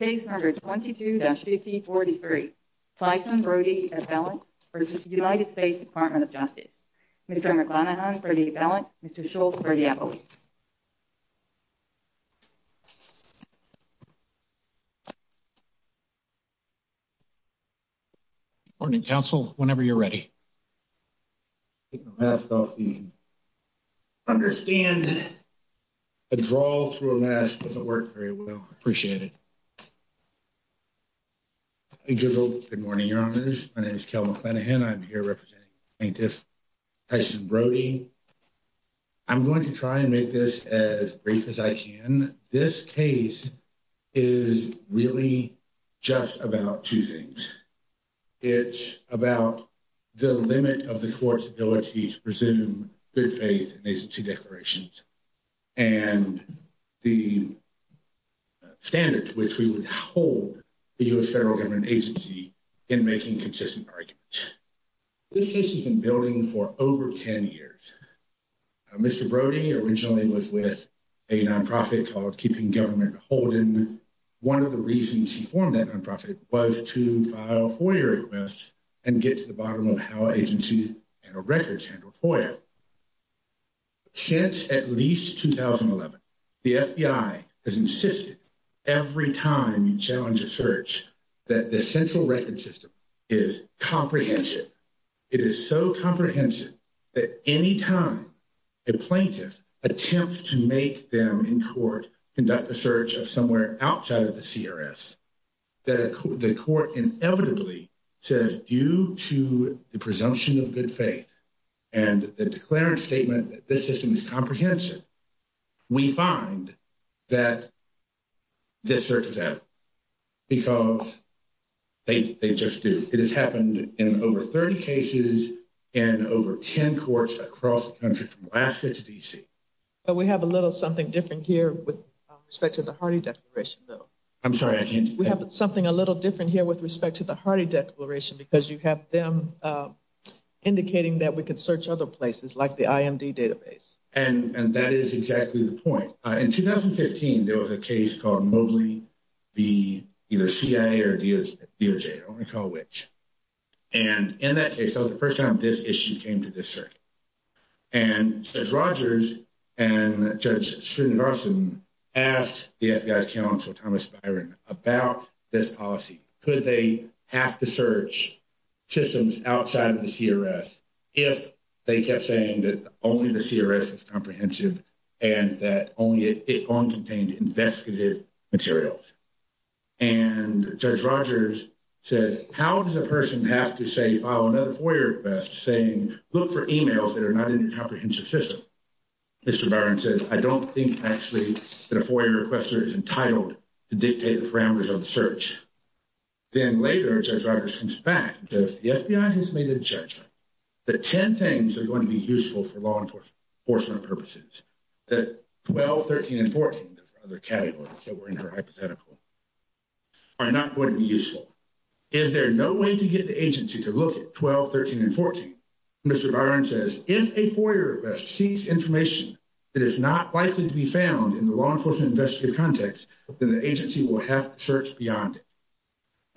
Case number 22-5043. Tyson Brody v. United States Department of Justice. Mr. McClanahan for the appellant. Mr. Schultz for the appellant. Good morning, counsel. Whenever you're ready. Take my mask off, Dean. Understand a draw through a mask doesn't work very well. Appreciate it. Good morning, your honors. My name is Kel McClanahan. I'm here representing plaintiff Tyson Brody. I'm going to try and make this as brief as I can. This case is really just about two things. It's about the limit of the court's ability to presume good faith in agency declarations and the standards which we would hold the U.S. federal government agency in making consistent arguments. This case has been building for over 10 years. Mr. Brody originally was with a nonprofit called Keeping Government Holden. One of the reasons he formed that nonprofit was to file FOIA requests and get to the bottom of how agency records handled FOIA. Since at least 2011, the FBI has insisted every time you challenge a search that the central record system is comprehensive. It is so comprehensive that any time a plaintiff attempts to make them in court conduct a search of somewhere outside of the CRS, the court inevitably says due to the presumption of good faith and the declarant statement that this system is comprehensive, we find that this search is adequate because they just do. It has happened in over 30 cases in over 10 courts across the country from Alaska to D.C. But we have a little something different here with respect to the Hardy Declaration, though. I'm sorry, I can't hear you. We have something a little different here with respect to the Hardy Declaration because you have them indicating that we can search other places like the IMD database. And that is exactly the point. In 2015, there was a case called Mobley v. either CIA or DOJ. I don't recall which. And in that case, that was the first time this issue came to this circuit. And Judge Rogers and Judge Srinivasan asked the FBI's counsel, Thomas Byron, about this policy. Could they have to search systems outside of the CRS if they kept saying that only the CRS is comprehensive and that only it contained investigative materials? And Judge Rogers said, how does a person have to say, file another FOIA request saying, look for emails that are not in your comprehensive system? Mr. Byron said, I don't think actually that a FOIA requester is entitled to dictate the parameters of the search. Then later, Judge Rogers comes back and says, the FBI has made a judgment that 10 things are going to be useful for law enforcement purposes. That 12, 13, and 14 are not going to be useful. Is there no way to get the agency to look at 12, 13, and 14? Mr. Byron says, if a FOIA request seeks information that is not likely to be found in the law enforcement investigative context, then the agency will have to search beyond it.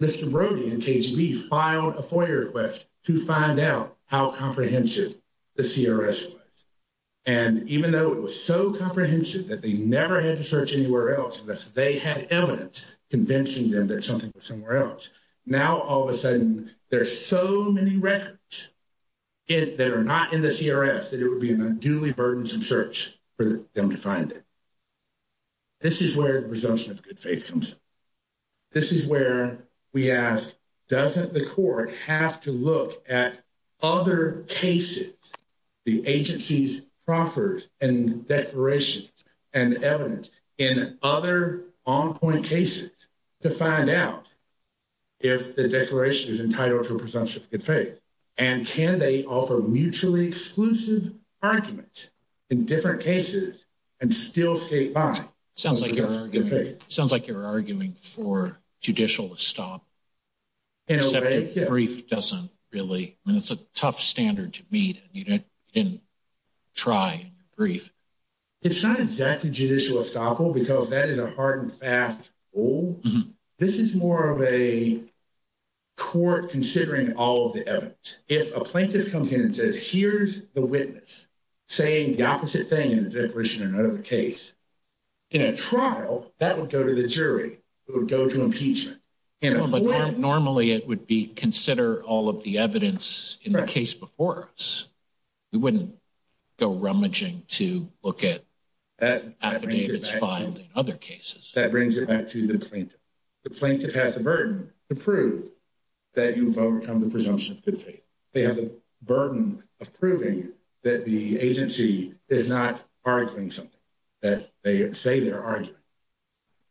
Mr. Brody and KGB filed a FOIA request to find out how comprehensive the CRS was. And even though it was so comprehensive that they never had to search anywhere else unless they had evidence convincing them that something was somewhere else, now all of a sudden there's so many records that are not in the CRS that it would be an unduly burdensome search for them to find it. This is where the presumption of good faith comes in. This is where we ask, doesn't the court have to look at other cases the agency's proffers and declarations and evidence in other on-point cases to find out if the declaration is entitled to a presumption of good faith? And can they offer mutually exclusive arguments in different cases and still skate by? Sounds like you're arguing for judicial estoppel, except the brief doesn't really, I mean, it's a tough standard to meet and you didn't try in the brief. It's not exactly judicial estoppel because that is a hard and fast rule. This is more of a court considering all of the evidence. If a plaintiff comes in and says, here's the witness saying the opposite thing in a declaration or another case, in a trial, that would go to the jury. It would go to impeachment. Normally it would be consider all of the evidence in the case before us. We wouldn't go rummaging to look at affidavits filed in other cases. That brings it back to the plaintiff. The plaintiff has the burden to prove that you've overcome the presumption of good faith. They have the burden of proving that the agency is not arguing something, that they say they're arguing.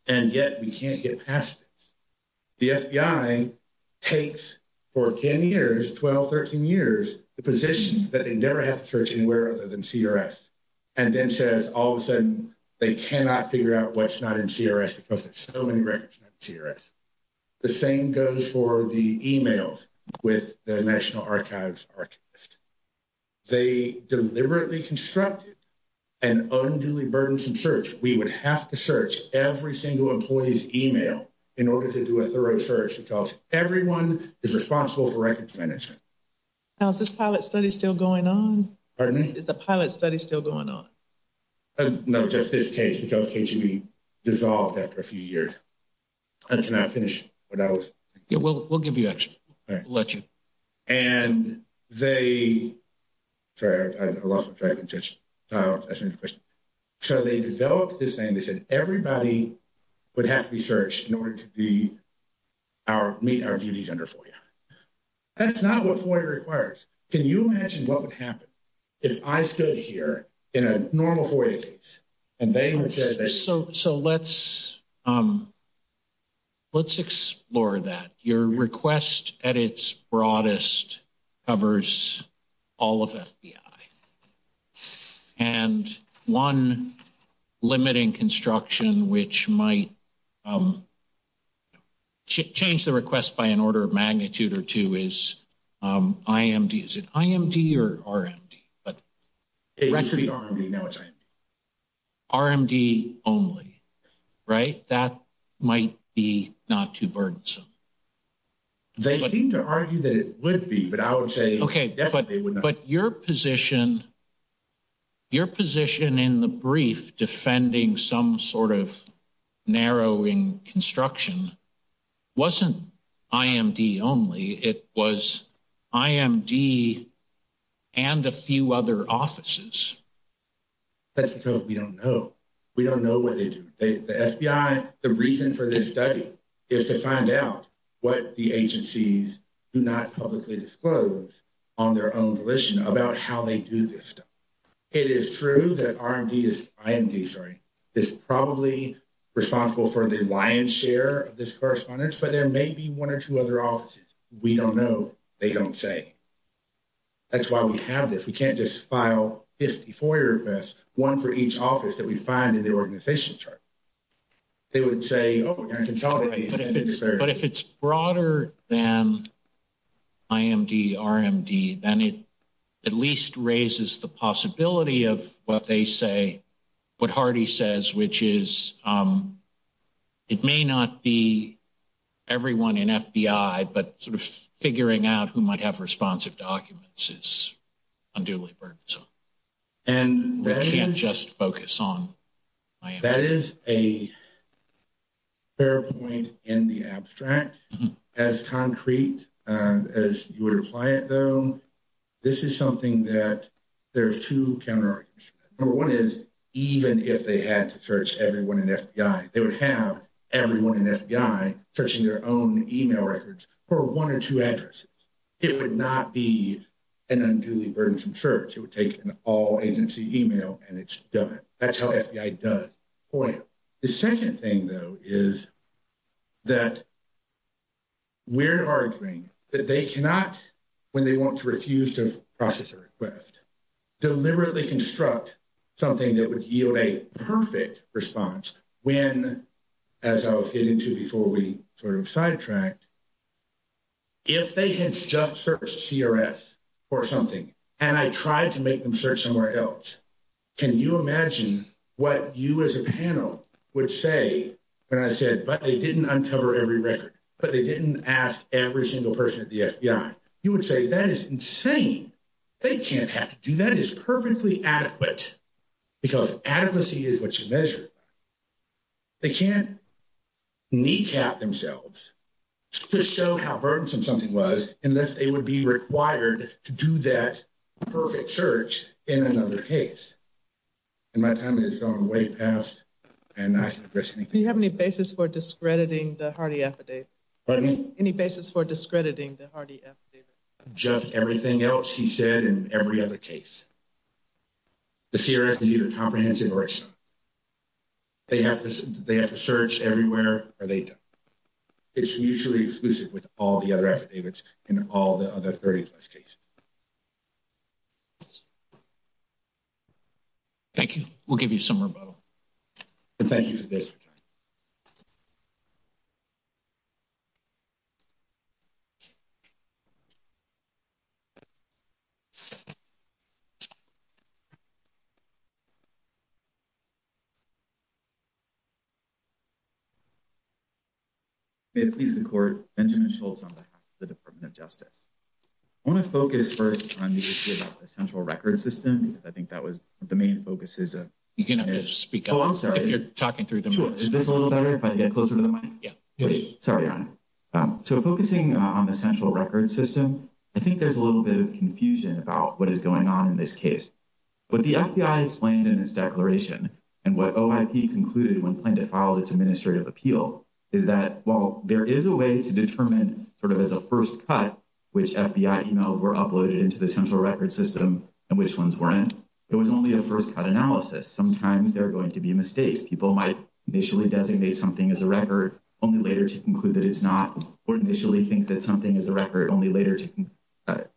And yet we can't get past this. The FBI takes for 10 years, 12, 13 years, the position that they never have to search anywhere other than CRS and then says all of a sudden they cannot figure out what's not in CRS because there's so many records in CRS. The same goes for the emails with the National Archives Archivist. They deliberately constructed an unduly burdensome search. We would have to search every single employee's email in order to do a thorough search because everyone is responsible for records management. Now, is this pilot study still going on? Pardon me? Is the pilot study still going on? No, just this case because the case will be dissolved after a few years. Can I finish what I was saying? We'll give you extra. All right. We'll let you. And they – sorry, I lost track of the question. So they developed this thing. They said everybody would have to be searched in order to meet our duties under FOIA. That's not what FOIA requires. Can you imagine what would happen if I stood here in a normal FOIA case and they would say – So let's explore that. Your request at its broadest covers all of FBI. And one limiting construction which might change the request by an order of magnitude or two is IMD. Is it IMD or RMD? It used to be RMD. Now it's IMD. RMD only, right? But that might be not too burdensome. They seem to argue that it would be, but I would say definitely would not. But your position in the brief defending some sort of narrowing construction wasn't IMD only. It was IMD and a few other offices. That's because we don't know. We don't know what they do. The reason for this study is to find out what the agencies do not publicly disclose on their own volition about how they do this stuff. It is true that IMD is probably responsible for the lion's share of this correspondence, but there may be one or two other offices. We don't know. They don't say. That's why we have this. We can't just file 54 requests, one for each office that we find in the organization chart. They would say, oh, you're in control of these. But if it's broader than IMD, RMD, then it at least raises the possibility of what they say, what Hardy says, which is it may not be everyone in FBI, but sort of figuring out who might have responsive documents is unduly burdensome. And we can't just focus on IMD. That is a fair point in the abstract. As concrete as you would apply it, though, this is something that there's two counterarguments. Number one is even if they had to search everyone in FBI, they would have everyone in FBI searching their own email records for one or two addresses. It would not be an unduly burdensome search. It would take an all-agency email, and it's done. That's how FBI does FOIA. The second thing, though, is that we're arguing that they cannot, when they want to refuse to process a request, deliberately construct something that would yield a perfect response when, as I was getting to before we sort of sidetracked, if they had just searched CRS for something and I tried to make them search somewhere else, can you imagine what you as a panel would say when I said, but they didn't uncover every record, but they didn't ask every single person at the FBI? You would say that is insane. They can't have to do that. It is perfectly adequate because adequacy is what you measure. They can't kneecap themselves to show how burdensome something was unless they would be required to do that perfect search in another case. And my time has gone way past and I can't address anything else. Do you have any basis for discrediting the Hardy affidavit? Pardon me? Any basis for discrediting the Hardy affidavit? Just everything else he said in every other case. The CRS is either comprehensive or it's not. They have to search everywhere or they don't. It's mutually exclusive with all the other affidavits in all the other 30-plus cases. Thank you. We'll give you some more time. Thank you for this. We'll give you some more time. We'll give you some more time. Let's, let's begin quickly with our first question. Benjamin Schultz. May it please the court, Benjamin Schultz on behalf of the Department of Justice. I want to focus first on the issue about the central record system. I think that was the main focus. You can speak up if you're talking through the mic. Can you hear me better if I get closer to the mic? Sorry, Your Honor. So focusing on the central record system, I think there's a little bit of confusion about what is going on in this case. What the FBI explained in its declaration, and what OIP concluded when planning to file its administrative appeal, is that while there is a way to determine sort of as a first cut which FBI emails were uploaded into the central record system and which ones weren't, it was only a first cut analysis. Sometimes there are going to be mistakes. People might initially designate something as a record only later to conclude that it's not, or initially think that something is a record only later to,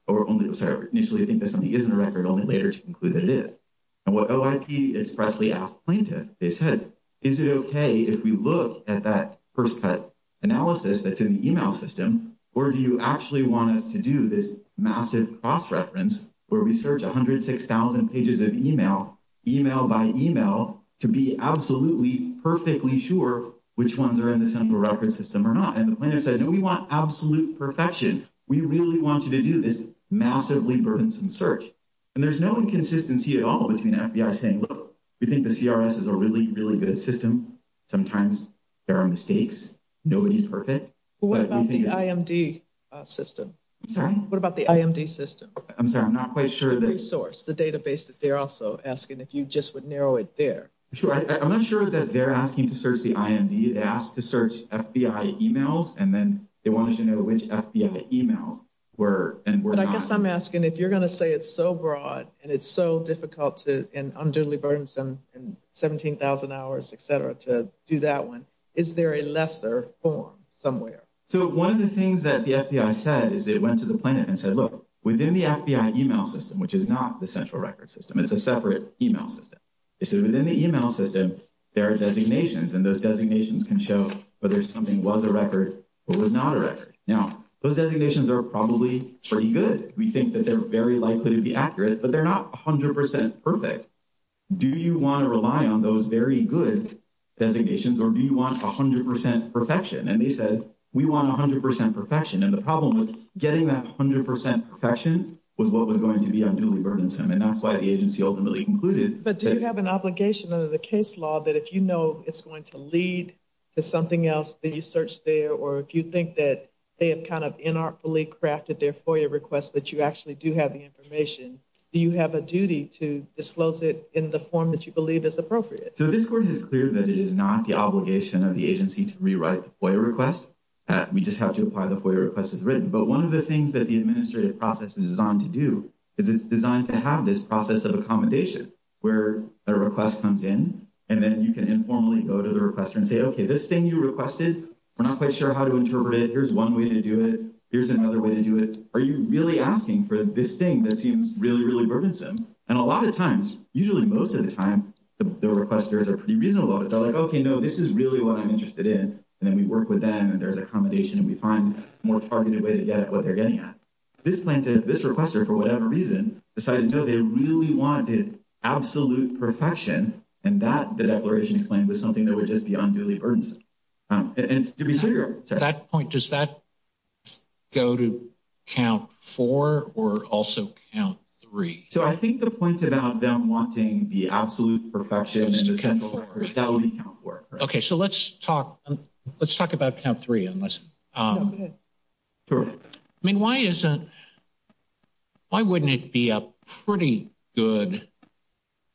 or only, sorry, initially think that something isn't a record only later to conclude that it is. And what OIP expressly asked plaintiffs, they said, is it okay if we look at that first cut analysis that's in the email system, or do you actually want us to do this massive cross-reference where we search 106,000 pages of email, email by email, to be absolutely, perfectly sure which ones are in the central record system or not? And the plaintiff said, no, we want absolute perfection. We really want you to do this massively burdensome search. And there's no inconsistency at all between the FBI saying, look, we think the CRS is a really, really good system. Sometimes there are mistakes. Nobody's perfect. But we think it's… What about the IMD system? Sorry? What about the IMD system? I'm sorry, I'm not quite sure that… I guess that they're also asking if you just would narrow it there. I'm not sure that they're asking to search the IMD. They asked to search FBI emails, and then they wanted to know which FBI emails were and were not. But I guess I'm asking if you're going to say it's so broad and it's so difficult and unduly burdensome and 17,000 hours, et cetera, to do that one, is there a lesser form somewhere? So one of the things that the FBI said is they went to the plaintiff and said, look, within the FBI email system, which is not the central record system, it's a separate email system. They said within the email system, there are designations, and those designations can show whether something was a record or was not a record. Now, those designations are probably pretty good. We think that they're very likely to be accurate, but they're not 100 percent perfect. Do you want to rely on those very good designations, or do you want 100 percent perfection? And they said, we want 100 percent perfection. And the problem was getting that 100 percent perfection was what was going to be unduly burdensome, and that's why the agency ultimately concluded. But do you have an obligation under the case law that if you know it's going to lead to something else that you search there or if you think that they have kind of inartfully crafted their FOIA request that you actually do have the information, do you have a duty to disclose it in the form that you believe is appropriate? So this court has cleared that it is not the obligation of the agency to rewrite the FOIA request. We just have to apply the FOIA request as written. But one of the things that the administrative process is designed to do is it's designed to have this process of accommodation where a request comes in, and then you can informally go to the requester and say, okay, this thing you requested, we're not quite sure how to interpret it. Here's one way to do it. Here's another way to do it. Are you really asking for this thing that seems really, really burdensome? And a lot of times, usually most of the time, the requesters are pretty reasonable about it. They're like, okay, no, this is really what I'm interested in. And then we work with them, and there's accommodation, and we find a more targeted way to get at what they're getting at. This plaintiff, this requester, for whatever reason, decided no, they really wanted absolute perfection, and that, the declaration explained, was something that would just be unduly burdensome. And to be clear. At that point, does that go to count four or also count three? So I think the point about them wanting the absolute perfection in the central records, that would be count four. Okay, so let's talk about count three. I mean, why wouldn't it be a pretty good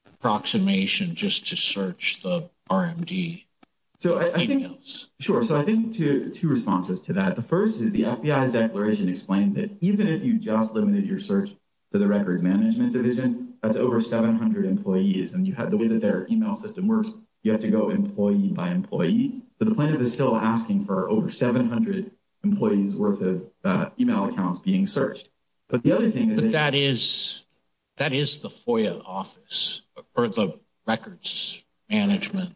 approximation just to search the RMD emails? Sure. So I think two responses to that. The first is the FBI's declaration explained that even if you just limited your search to the records management division, that's over 700 employees, and the way that their email system works, you have to go employee by employee. But the plaintiff is still asking for over 700 employees' worth of email accounts being searched. But the other thing is that... But that is the FOIA office, or the records management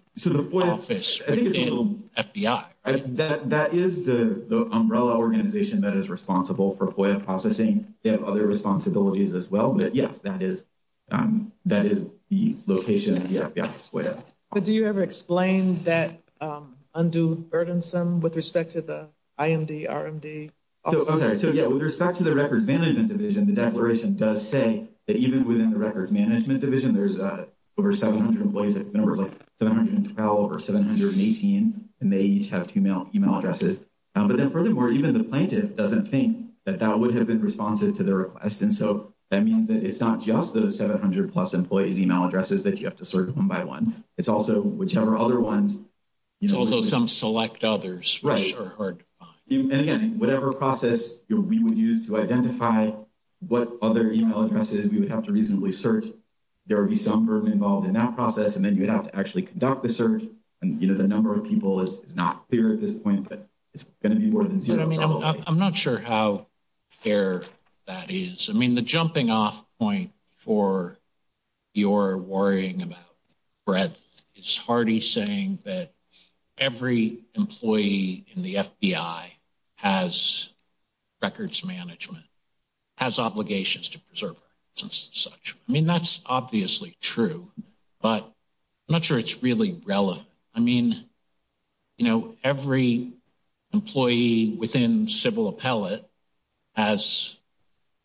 office within FBI, right? That is the umbrella organization that is responsible for FOIA processing. They have other responsibilities as well. But, yes, that is the location of the FBI FOIA. But do you ever explain that unduly burdensome with respect to the IMD, RMD? I'm sorry. So, yeah, with respect to the records management division, the declaration does say that even within the records management division, there's over 700 employees, like 712 or 718, and they each have two email addresses. But then, furthermore, even the plaintiff doesn't think that that would have been responsive to their request. And so that means that it's not just those 700-plus employees' email addresses that you have to search one by one. It's also whichever other ones... It's also some select others, which are hard to find. Right. And, again, whatever process we would use to identify what other email addresses we would have to reasonably search, there would be some burden involved in that process, and then you'd have to actually conduct the search. And, you know, the number of people is not clear at this point, but it's going to be more than zero, probably. I'm not sure how clear that is. I mean, the jumping-off point for your worrying about breadth is Hardy saying that every employee in the FBI has records management, has obligations to preservers and such. I mean, that's obviously true, but I'm not sure it's really relevant. I mean, you know, every employee within civil appellate has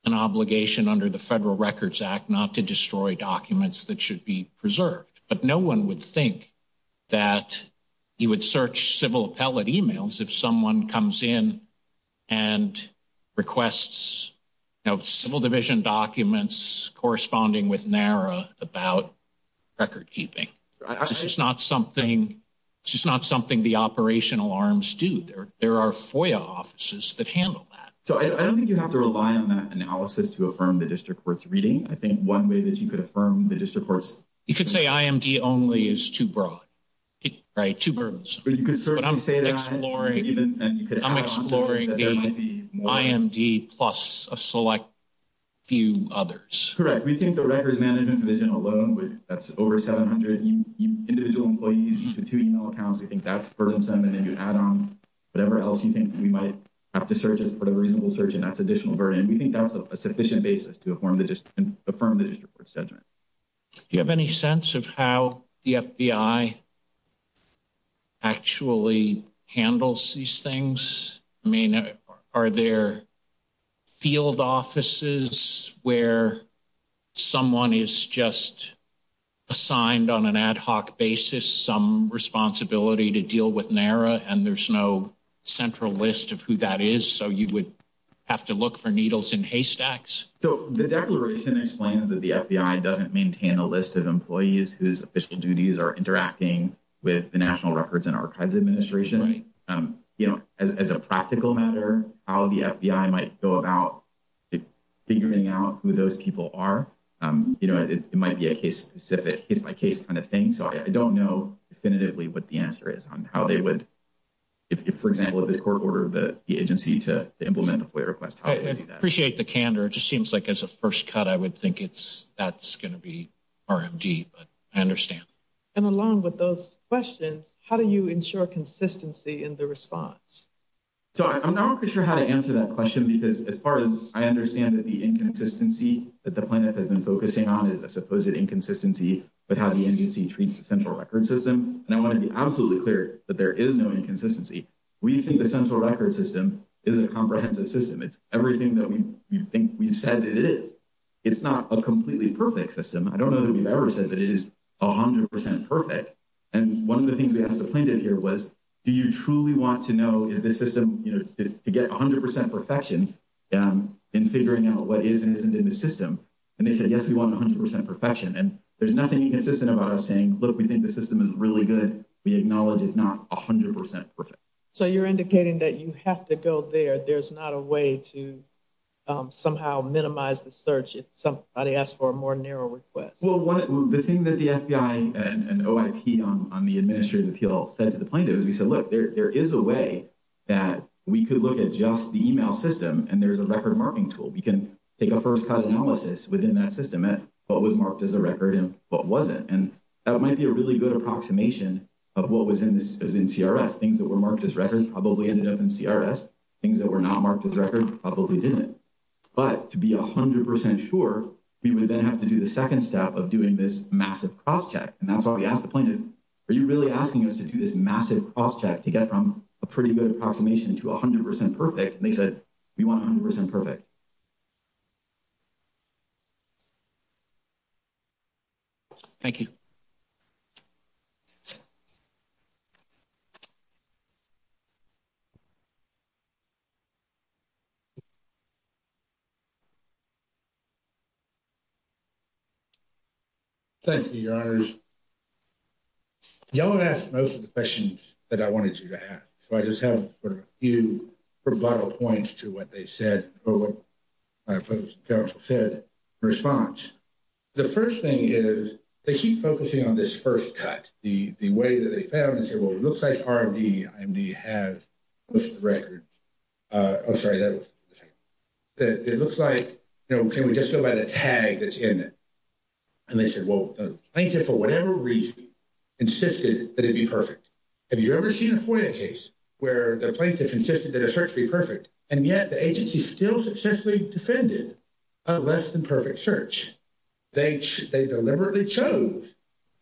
an obligation under the Federal Records Act not to destroy documents that should be preserved. But no one would think that you would search civil appellate emails if someone comes in and requests, you know, civil division documents corresponding with NARA about recordkeeping. This is not something the operational arms do. There are FOIA offices that handle that. So I don't think you have to rely on that analysis to affirm the district court's reading. I think one way that you could affirm the district court's reading. You could say IMD only is too broad, right? Too burdensome. But you could certainly say that. But I'm exploring the IMD plus a select few others. Correct. We think the records management division alone, that's over 700 individual employees with two email accounts. We think that's burdensome. And then you add on whatever else you think we might have to search as part of a reasonable search, and that's additional burden. And we think that's a sufficient basis to affirm the district court's judgment. Do you have any sense of how the FBI actually handles these things? I mean, are there field offices where someone is just assigned on an ad hoc basis some responsibility to deal with NARA, and there's no central list of who that is? So you would have to look for needles in haystacks? So the declaration explains that the FBI doesn't maintain a list of employees whose official duties are interacting with the National Records and Archives Administration. Right. You know, as a practical matter, how the FBI might go about figuring out who those people are, you know, it might be a case-specific, case-by-case kind of thing. So I don't know definitively what the answer is on how they would, if, for example, if the court ordered the agency to implement a FOIA request, how they would do that. I appreciate the candor. It just seems like as a first cut, I would think that's going to be RMD, but I understand. And along with those questions, how do you ensure consistency in the response? So I'm not quite sure how to answer that question, because as far as I understand it, the inconsistency that the plaintiff has been focusing on is a supposed inconsistency with how the agency treats the central record system. And I want to be absolutely clear that there is no inconsistency. We think the central record system is a comprehensive system. It's everything that we think we've said it is. It's not a completely perfect system. I don't know that we've ever said that it is 100 percent perfect. And one of the things we asked the plaintiff here was, do you truly want to know, is this system, you know, to get 100 percent perfection in figuring out what is and isn't in the system? And they said, yes, we want 100 percent perfection. And there's nothing inconsistent about us saying, look, we think the system is really good. We acknowledge it's not 100 percent perfect. So you're indicating that you have to go there. There's not a way to somehow minimize the search if somebody asks for a more narrow request. Well, the thing that the FBI and OIP on the administrative appeal said to the plaintiff is we said, look, there is a way that we could look at just the email system and there's a record marking tool. We can take a first cut analysis within that system at what was marked as a record and what wasn't. And that might be a really good approximation of what was in CRS. Things that were marked as record probably ended up in CRS. Things that were not marked as record probably didn't. But to be 100 percent sure, we would then have to do the second step of doing this massive cross-check. And that's why we asked the plaintiff, are you really asking us to do this massive cross-check to get from a pretty good approximation to 100 percent perfect? And they said, we want 100 percent perfect. Thank you. Thank you, your honors. Y'all have asked most of the questions that I wanted you to ask. So I just have a few rebuttal points to what they said or what the counsel said in response. The first thing is they keep focusing on this first cut. The way that they found it, they said, well, it looks like RMD has most records. Oh, sorry. It looks like, you know, can we just go by the tag that's in it? And they said, well, the plaintiff, for whatever reason, insisted that it be perfect. Have you ever seen a FOIA case where the plaintiff insisted that a search be perfect and yet the agency still successfully defended a less than perfect search? They deliberately chose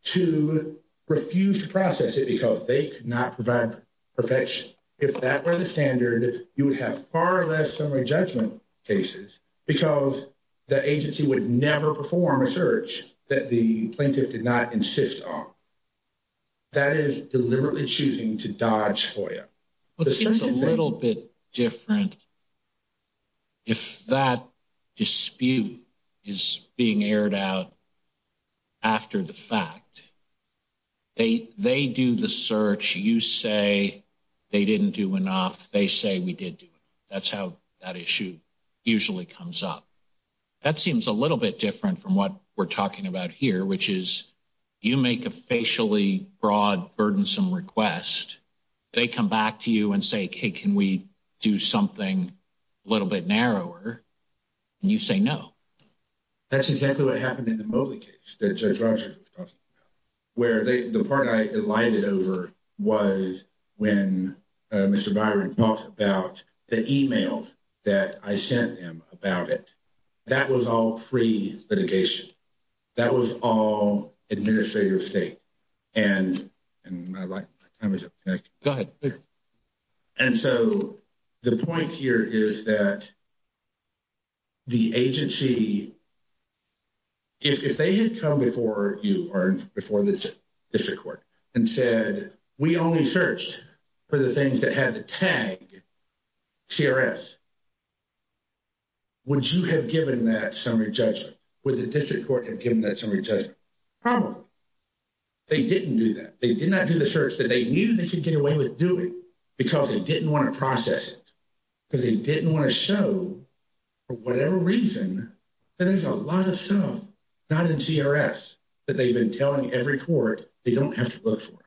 to refuse to process it because they could not provide perfection. If that were the standard, you would have far less summary judgment cases because the agency would never perform a search that the plaintiff did not insist on. That is deliberately choosing to dodge FOIA. It seems a little bit different if that dispute is being aired out after the fact. They do the search. You say they didn't do enough. They say we did. That's how that issue usually comes up. That seems a little bit different from what we're talking about here, which is you make a facially broad, burdensome request. They come back to you and say, hey, can we do something a little bit narrower? And you say no. That's exactly what happened in the Moley case that Judge Rogers was talking about, where the part I elided over was when Mr. Byron talked about the e-mails that I sent him about it. That was all pre-litigation. That was all administrative state. And my time is up. Go ahead. And so the point here is that the agency, if they had come before you or before the district court and said we only searched for the things that had the tag CRS, would you have given that summary judgment? Would the district court have given that summary judgment? Probably. They didn't do that. They did not do the search that they knew they could get away with doing because they didn't want to process it, because they didn't want to show, for whatever reason, that there's a lot of stuff not in CRS that they've been telling every court they don't have to look for.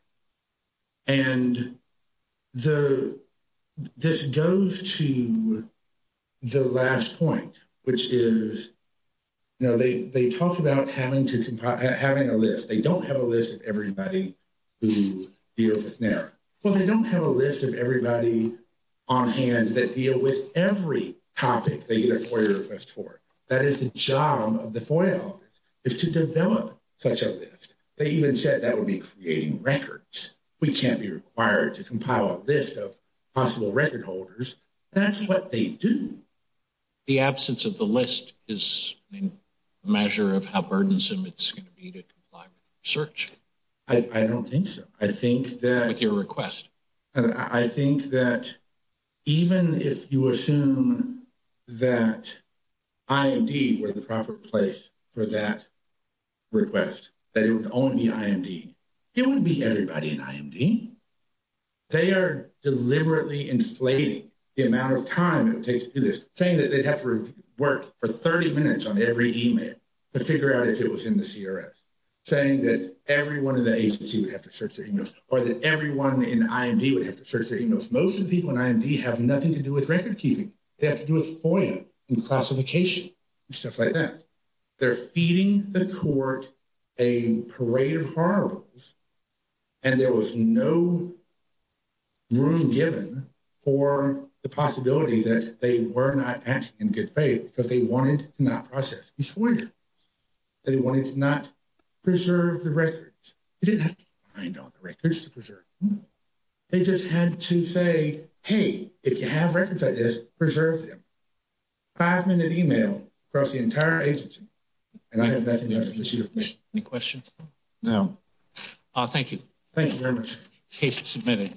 And this goes to the last point, which is, you know, they talk about having a list. They don't have a list of everybody who deals with NARA. Well, they don't have a list of everybody on hand that deal with every topic they get a FOIA request for. That is the job of the FOIA office, is to develop such a list. They even said that would be creating records. We can't be required to compile a list of possible record holders. That's what they do. The absence of the list is a measure of how burdensome it's going to be to comply with the search. I don't think so. I think that... With your request. I think that even if you assume that IMD were the proper place for that request, that it would only be IMD, it wouldn't be everybody in IMD. They are deliberately inflating the amount of time it takes to do this, saying that they'd have to work for 30 minutes on every email to figure out if it was in the CRS, saying that everyone in the agency would have to search their emails, or that everyone in IMD would have to search their emails. Most of the people in IMD have nothing to do with record keeping. They have to do with FOIA and classification and stuff like that. They're feeding the court a parade of horribles, and there was no room given for the possibility that they were not acting in good faith because they wanted to not process these FOIA documents. They wanted to not preserve the records. They didn't have to find all the records to preserve. They just had to say, hey, if you have records like this, preserve them. Five-minute email across the entire agency, and I have nothing to do with it. Any questions? No. Thank you. Thank you very much. Case submitted.